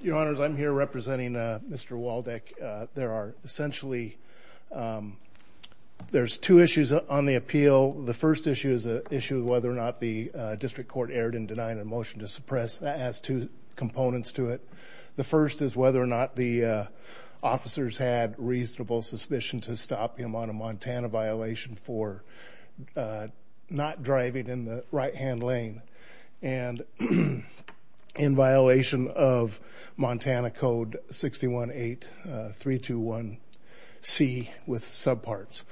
Your honors, I'm here representing Mr. Waldeck. There are essentially, there's two issues on the appeal. The first issue is the issue of whether or not the district court erred in denying a motion to suppress. That has two components to it. The first is whether or not the officers had reasonable suspicion to stop him on a Montana violation for not driving in the right-hand lane. And in violation of Montana Code 618321C with subparts.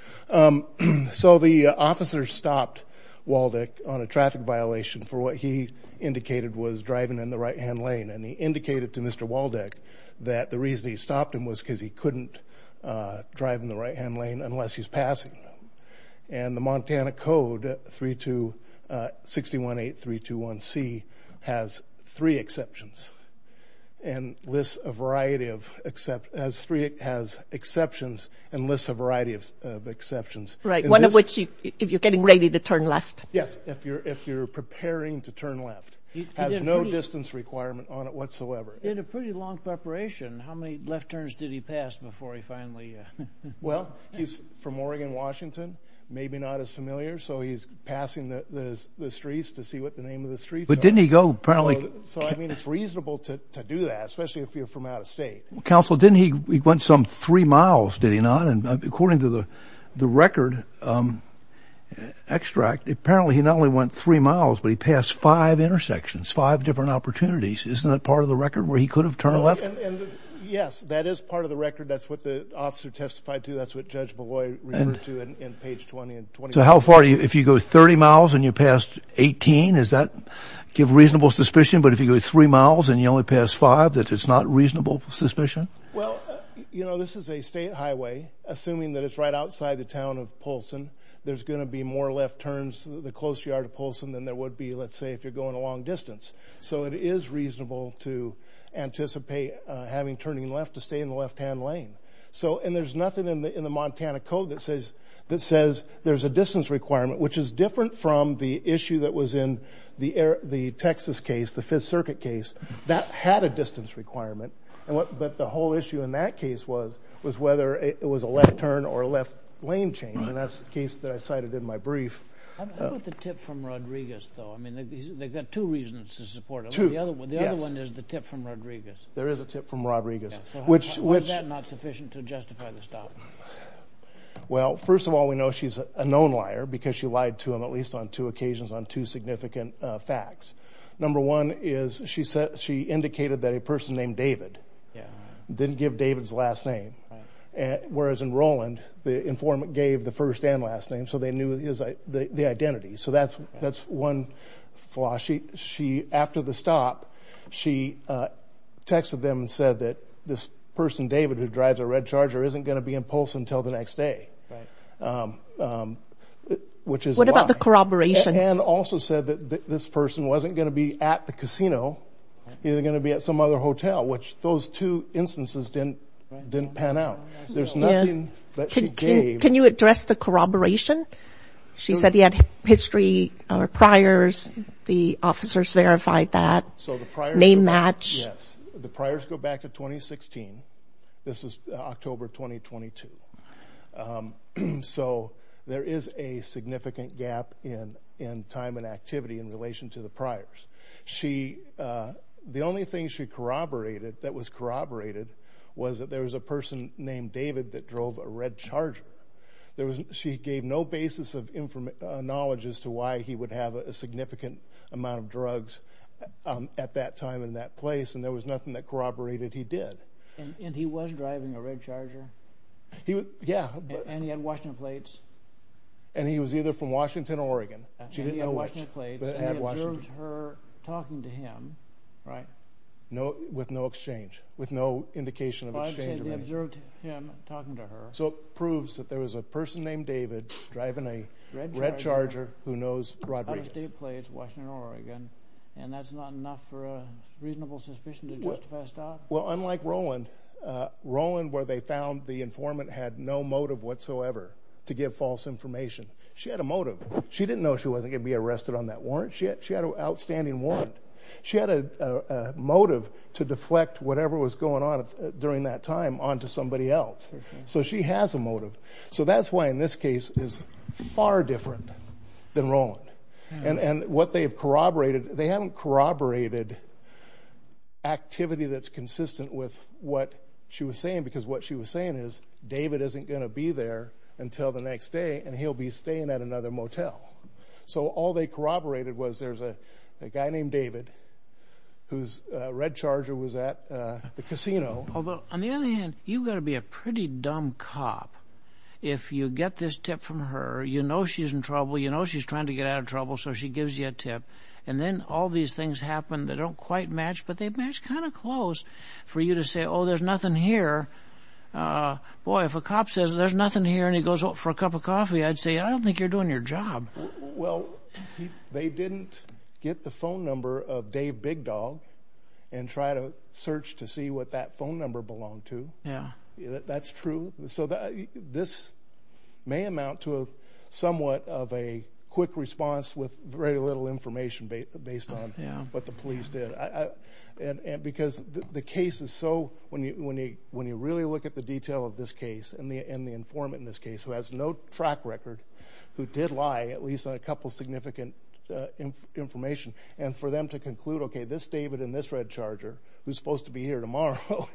So the officer stopped Waldeck on a traffic violation for what he indicated was driving in the right-hand lane. And he indicated to Mr. Waldeck that the reason he stopped him was because he couldn't drive in the right-hand lane unless he's passing. And the Montana Code 618321C has three exceptions and lists a variety of exceptions. Right, one of which is if you're getting ready to turn left. Yes, if you're preparing to turn left. It has no distance requirement on it whatsoever. He had a pretty long preparation. How many left turns did he pass before he finally... Well, he's from Oregon, Washington. Maybe not as familiar, so he's passing the streets to see what the name of the streets are. But didn't he go, apparently... So, I mean, it's reasonable to do that, especially if you're from out of state. Counsel, didn't he, he went some three miles, did he not? And according to the record extract, apparently he not only went three miles, but he passed five intersections, five different opportunities. Isn't that part of the record where he could have turned left? Yes, that is part of the record. That's what the officer testified to. That's what Judge Beloy referred to in page 20. So how far, if you go 30 miles and you passed 18, does that give reasonable suspicion? But if you go three miles and you only pass five, that it's not reasonable suspicion? Well, you know, this is a state highway. Assuming that it's right outside the town of Polson, there's going to be more left turns to the close yard of Polson than there would be, let's say, if you're going a long distance. So it is reasonable to anticipate having turning left to stay in the left-hand lane. So, and there's nothing in the Montana Code that says there's a distance requirement, which is different from the issue that was in the Texas case, the Fifth Circuit case, that had a distance requirement. But the whole issue in that case was whether it was a left turn or a left lane change, and that's the case that I cited in my brief. How about the tip from Rodriguez, though? I mean, they've got two reasons to support it. Two, yes. The other one is the tip from Rodriguez. There is a tip from Rodriguez. So how is that not sufficient to justify the stop? Well, first of all, we know she's a known liar because she lied to him at least on two occasions on two significant facts. Number one is she indicated that a person named David didn't give David's last name, whereas in Roland, the informant gave the first and last name, so they knew the identity. So that's one flaw. She, after the stop, she texted them and said that this person, David, who drives a red Charger, isn't going to be in Polson until the next day, which is a lie. What about the corroboration? And also said that this person wasn't going to be at the casino. He was going to be at some other hotel, which those two instances didn't pan out. There's nothing that she gave. Can you address the corroboration? She said he had history or priors. The officers verified that name match. Yes. The priors go back to 2016. This is October 2022. So there is a significant gap in time and activity in relation to the priors. The only thing she corroborated that was corroborated was that there was a person named David that drove a red Charger. She gave no basis of knowledge as to why he would have a significant amount of drugs at that time and that place, and there was nothing that corroborated he did. And he was driving a red Charger? Yeah. And he had Washington plates? And he was either from Washington or Oregon. She didn't know which, but it had Washington. And he observed her talking to him, right? No, with no exchange, with no indication of exchange. But I'm saying they observed him talking to her. So it proves that there was a person named David driving a red Charger who knows Rodriguez. Under state plates, Washington or Oregon, and that's not enough for a reasonable suspicion to justify a stop? Well, unlike Rowland, Rowland, where they found the informant, had no motive whatsoever to give false information. She had a motive. She didn't know she wasn't going to be arrested on that warrant. She had an outstanding warrant. She had a motive to deflect whatever was going on during that time onto somebody else. So she has a motive. So that's why in this case is far different than Rowland. And what they have corroborated, they haven't corroborated activity that's consistent with what she was saying, because what she was saying is David isn't going to be there until the next day, and he'll be staying at another motel. So all they corroborated was there's a guy named David whose red Charger was at the casino. Although, on the other hand, you've got to be a pretty dumb cop if you get this tip from her, you know she's in trouble, you know she's trying to get out of trouble, so she gives you a tip. And then all these things happen that don't quite match, but they match kind of close for you to say, oh, there's nothing here. Boy, if a cop says there's nothing here and he goes out for a cup of coffee, I'd say, I don't think you're doing your job. Well, they didn't get the phone number of Dave Big Dog and try to search to see what that phone number belonged to. Yeah. That's true. So this may amount to somewhat of a quick response with very little information based on what the police did. And because the case is so, when you really look at the detail of this case and the informant in this case who has no track record, who did lie, at least on a couple of significant information, and for them to conclude, okay, this David and this red Charger, who's supposed to be here tomorrow,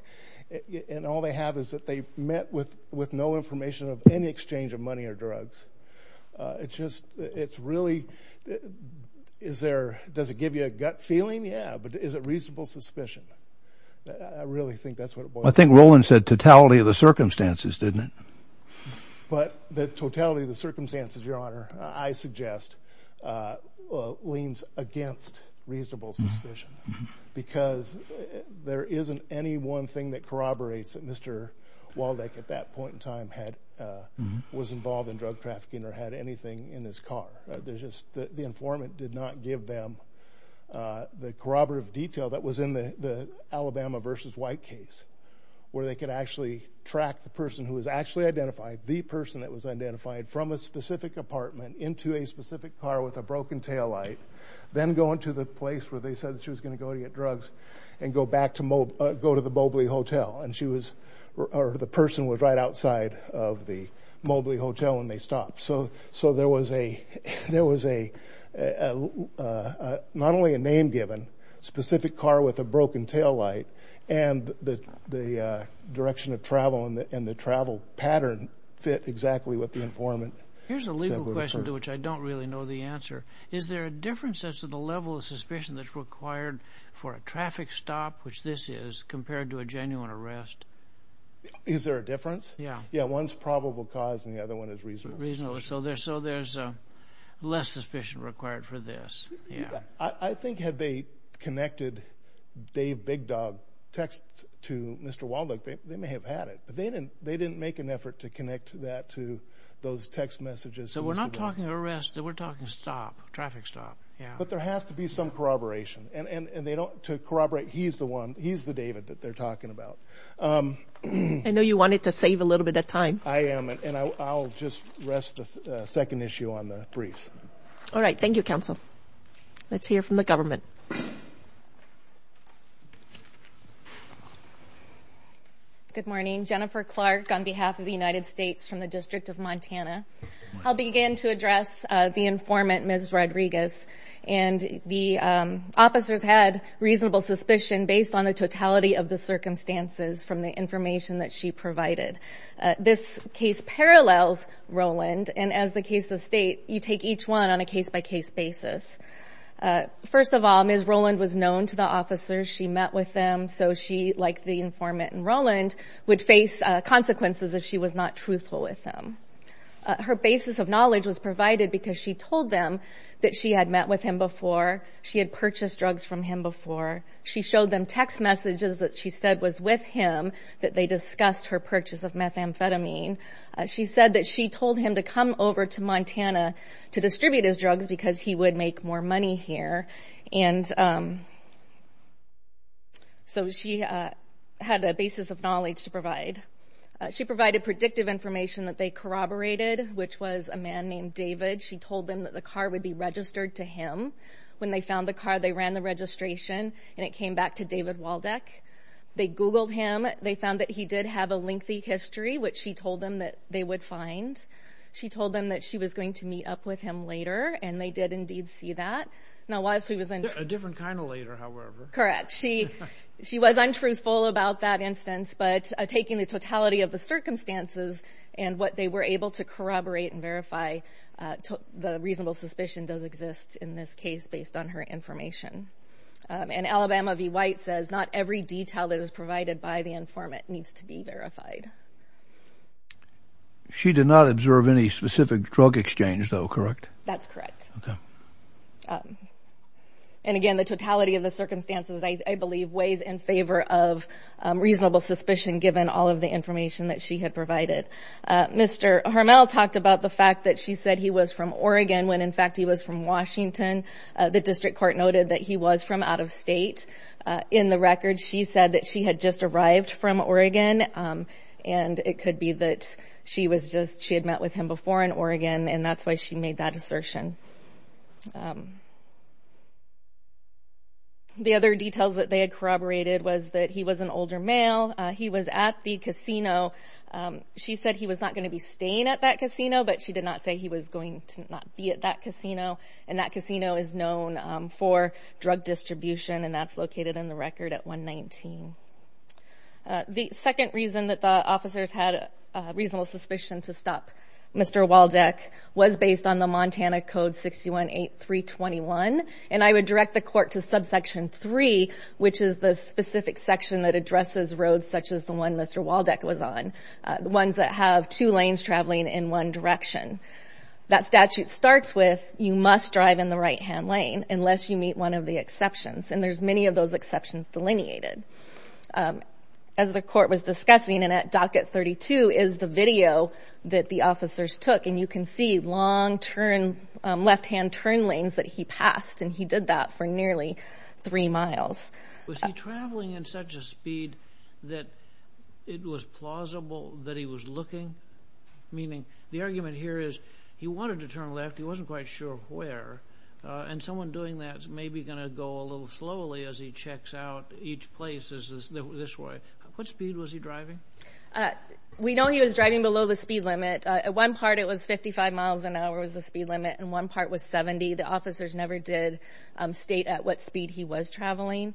and all they have is that they met with no information of any exchange of money or drugs. It's just, it's really, is there, does it give you a gut feeling? Yeah. But is it reasonable suspicion? I really think that's what it boils down to. I think Roland said totality of the circumstances, didn't it? But the totality of the circumstances, Your Honor, I suggest leans against reasonable suspicion. Because there isn't any one thing that corroborates that Mr. Waldeck at that point in time was involved in drug trafficking or had anything in his car. The informant did not give them the corroborative detail that was in the Alabama v. White case, where they could actually track the person who was actually identified, the person that was identified from a specific apartment into a specific car with a broken taillight, then go into the place where they said she was going to go to get drugs and go back to, go to the Mobley Hotel. And she was, or the person was right outside of the Mobley Hotel when they stopped. So there was a, there was a, not only a name given, specific car with a broken taillight, and the direction of travel and the travel pattern fit exactly with the informant. Here's a legal question to which I don't really know the answer. Is there a difference as to the level of suspicion that's required for a traffic stop, which this is, compared to a genuine arrest? Is there a difference? Yeah. Yeah, one's probable cause and the other one is reasonable suspicion. Reasonable, so there's less suspicion required for this, yeah. I think had they connected Dave Big Dog texts to Mr. Waldeck, they may have had it. But they didn't make an effort to connect that to those text messages. So we're not talking arrest, we're talking stop, traffic stop, yeah. But there has to be some corroboration. And they don't, to corroborate, he's the one, he's the David that they're talking about. I know you wanted to save a little bit of time. I am, and I'll just rest the second issue on the briefs. All right, thank you, counsel. Let's hear from the government. Good morning. Jennifer Clark on behalf of the United States from the District of Montana. I'll begin to address the informant, Ms. Rodriguez. And the officers had reasonable suspicion based on the totality of the circumstances from the information that she provided. This case parallels Rowland, and as the case of state, you take each one on a case-by-case basis. First of all, Ms. Rowland was known to the officers, she met with them, so she, like the informant in Rowland, would face consequences if she was not truthful with them. Her basis of knowledge was provided because she told them that she had met with him before, she had purchased drugs from him before. She showed them text messages that she said was with him, that they discussed her purchase of methamphetamine. She said that she told him to come over to Montana to distribute his drugs because he would make more money here. So she had a basis of knowledge to provide. She provided predictive information that they corroborated, which was a man named David. She told them that the car would be registered to him. When they found the car, they ran the registration, and it came back to David Waldeck. They Googled him. They found that he did have a lengthy history, which she told them that they would find. She told them that she was going to meet up with him later, and they did indeed see that. Now, while she was untruthful. A different kind of later, however. Correct. She was untruthful about that instance, but taking the totality of the circumstances and what they were able to corroborate and verify, the reasonable suspicion does exist in this case based on her information. And Alabama v. White says not every detail that is provided by the informant needs to be verified. She did not observe any specific drug exchange, though, correct? That's correct. And, again, the totality of the circumstances, I believe, weighs in favor of reasonable suspicion given all of the information that she had provided. Mr. Hermel talked about the fact that she said he was from Oregon when, in fact, he was from Washington. The district court noted that he was from out of state. In the record, she said that she had just arrived from Oregon. And it could be that she had met with him before in Oregon, and that's why she made that assertion. The other details that they had corroborated was that he was an older male. He was at the casino. She said he was not going to be staying at that casino, but she did not say he was going to not be at that casino. And that casino is known for drug distribution, and that's located in the record at 119. The second reason that the officers had reasonable suspicion to stop Mr. Waldeck was based on the Montana Code 618321. And I would direct the court to subsection 3, which is the specific section that addresses roads such as the one Mr. Waldeck was on, the ones that have two lanes traveling in one direction. That statute starts with, you must drive in the right-hand lane unless you meet one of the exceptions. And there's many of those exceptions delineated. As the court was discussing, and at docket 32 is the video that the officers took, and you can see long left-hand turn lanes that he passed, and he did that for nearly three miles. Was he traveling in such a speed that it was plausible that he was looking? Meaning the argument here is he wanted to turn left, he wasn't quite sure where, and someone doing that is maybe going to go a little slowly as he checks out each place this way. What speed was he driving? We know he was driving below the speed limit. At one part it was 55 miles an hour was the speed limit, and one part was 70. The officers never did state at what speed he was traveling.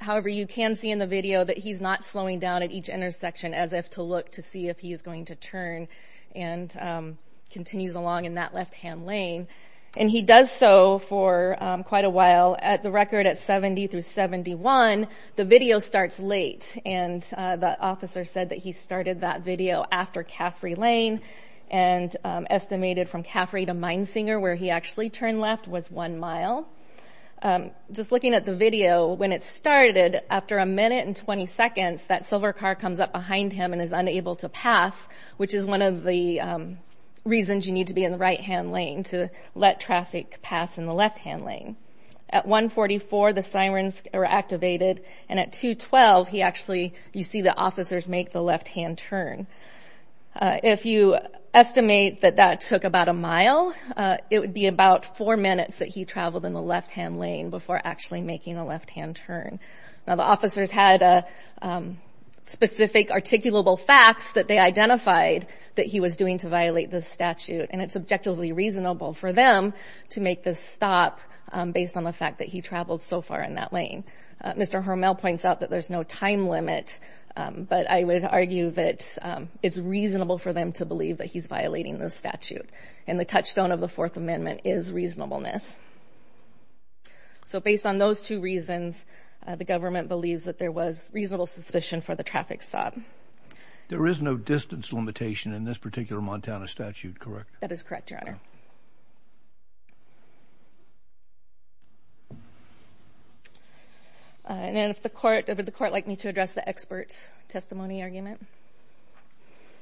However, you can see in the video that he's not slowing down at each intersection as if to look to see if he is going to turn and continues along in that left-hand lane. And he does so for quite a while. At the record at 70 through 71, the video starts late, and the officer said that he started that video after Caffrey Lane and estimated from Caffrey to Minesinger where he actually turned left was one mile. Just looking at the video, when it started, after a minute and 20 seconds, that silver car comes up behind him and is unable to pass, which is one of the reasons you need to be in the right-hand lane to let traffic pass in the left-hand lane. At 144, the sirens are activated, and at 212, you see the officers make the left-hand turn. If you estimate that that took about a mile, it would be about four minutes that he traveled in the left-hand lane before actually making a left-hand turn. Now, the officers had specific articulable facts that they identified that he was doing to violate this statute, and it's objectively reasonable for them to make this stop based on the fact that he traveled so far in that lane. Mr. Hermel points out that there's no time limit, but I would argue that it's reasonable for them to believe that he's violating this statute, and the touchstone of the Fourth Amendment is reasonableness. So based on those two reasons, the government believes that there was reasonable suspicion for the traffic stop. There is no distance limitation in this particular Montana statute, correct? That is correct, Your Honor. And if the court, would the court like me to address the expert testimony argument?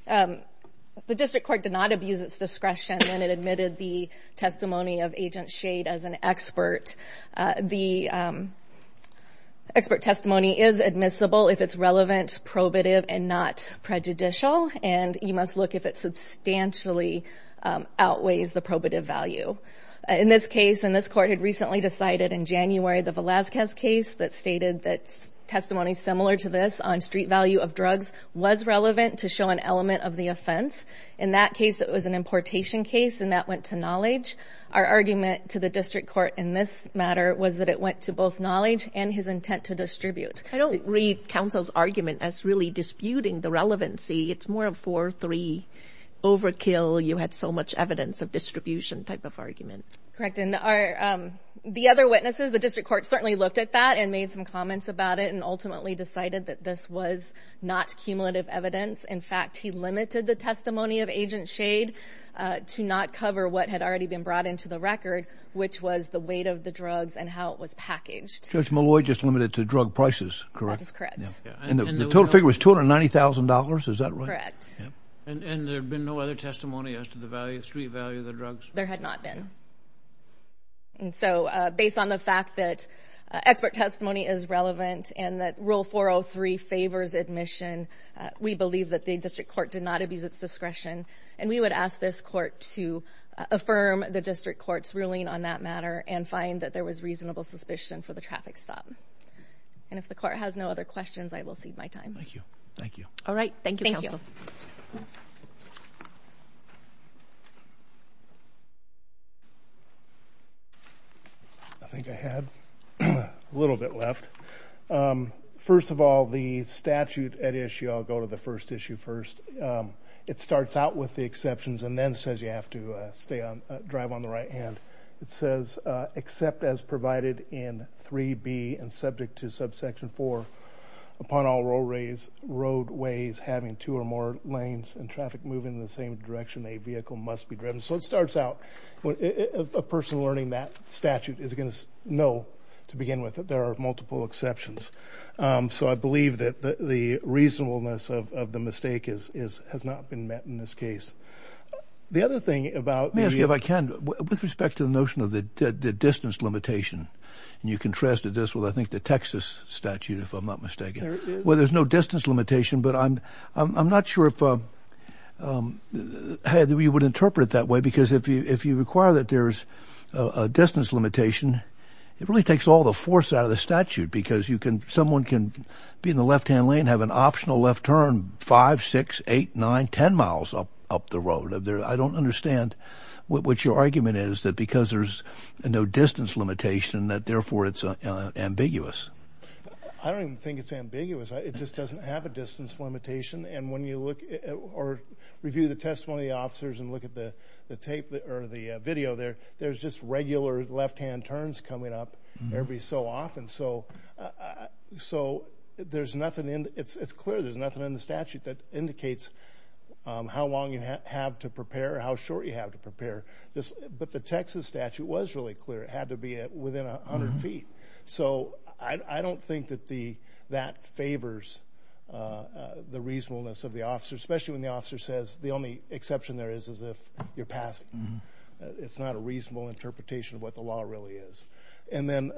The district court did not abuse its discretion when it admitted the testimony of Agent Shade as an expert. The expert testimony is admissible if it's relevant, probative, and not prejudicial, and you must look if it substantially outweighs the probative value. In this case, and this court had recently decided in January, the Velazquez case that stated that testimony similar to this on street value of drugs was relevant to show an element of the offense. In that case, it was an importation case, and that went to knowledge. Our argument to the district court in this matter was that it went to both knowledge and his intent to distribute. I don't read counsel's argument as really disputing the relevancy. It's more of four, three, overkill, you had so much evidence of distribution type of argument. Correct, and the other witnesses, the district court certainly looked at that and made some comments about it and ultimately decided that this was not cumulative evidence. In fact, he limited the testimony of Agent Shade to not cover what had already been brought into the record, which was the weight of the drugs and how it was packaged. Judge Malloy just limited it to drug prices, correct? That is correct. And the total figure was $290,000, is that right? Correct. And there had been no other testimony as to the street value of the drugs? There had not been. And so, based on the fact that expert testimony is relevant and that Rule 403 favors admission, we believe that the district court did not abuse its discretion and we would ask this court to affirm the district court's ruling on that matter and find that there was reasonable suspicion for the traffic stop. And if the court has no other questions, I will cede my time. Thank you. All right, thank you, counsel. Thank you. I think I had a little bit left. First of all, the statute at issue, I'll go to the first issue first. It starts out with the exceptions and then says you have to drive on the right hand. It says, except as provided in 3B and subject to subsection 4, upon all roadways having two or more lanes and traffic moving in the same direction, a vehicle must be driven. So it starts out, a person learning that statute is going to know to begin with that there are multiple exceptions. So I believe that the reasonableness of the mistake has not been met in this case. The other thing about the— Let me ask you, if I can, with respect to the notion of the distance limitation, and you contrasted this with, I think, the Texas statute, if I'm not mistaken. There it is. Well, there's no distance limitation, but I'm not sure if you would interpret it that way because if you require that there's a distance limitation, it really takes all the force out of the statute because someone can be in the left-hand lane and have an optional left turn five, six, eight, nine, ten miles up the road. I don't understand what your argument is that because there's no distance limitation that, therefore, it's ambiguous. I don't even think it's ambiguous. It just doesn't have a distance limitation. And when you look or review the testimony of the officers and look at the tape or the video there, there's just regular left-hand turns coming up every so often. So there's nothing in—it's clear there's nothing in the statute that indicates how long you have to prepare or how short you have to prepare. But the Texas statute was really clear. It had to be within 100 feet. So I don't think that that favors the reasonableness of the officer, especially when the officer says the only exception there is is if you're passing. It's not a reasonable interpretation of what the law really is. And then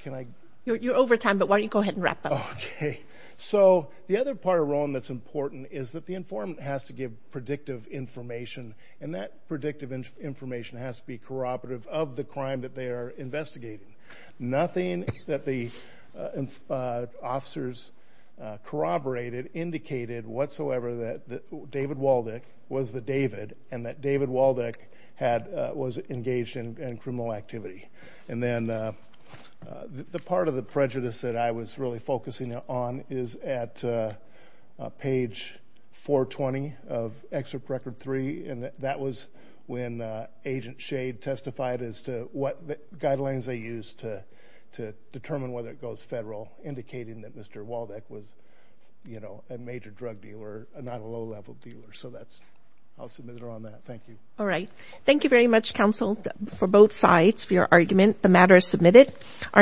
can I— You're over time, but why don't you go ahead and wrap up. Okay. So the other part of Rowan that's important is that the informant has to give predictive information, and that predictive information has to be corroborative of the crime that they are investigating. Nothing that the officers corroborated indicated whatsoever that David Waldek was the David and that David Waldek was engaged in criminal activity. And then the part of the prejudice that I was really focusing on is at page 420 of Excerpt Record 3, and that was when Agent Shade testified as to what guidelines they used to determine whether it goes federal, indicating that Mr. Waldek was a major drug dealer and not a low-level dealer. So that's—I'll submit it on that. Thank you. All right. Thank you very much, counsel, for both sides for your argument. The matter is submitted.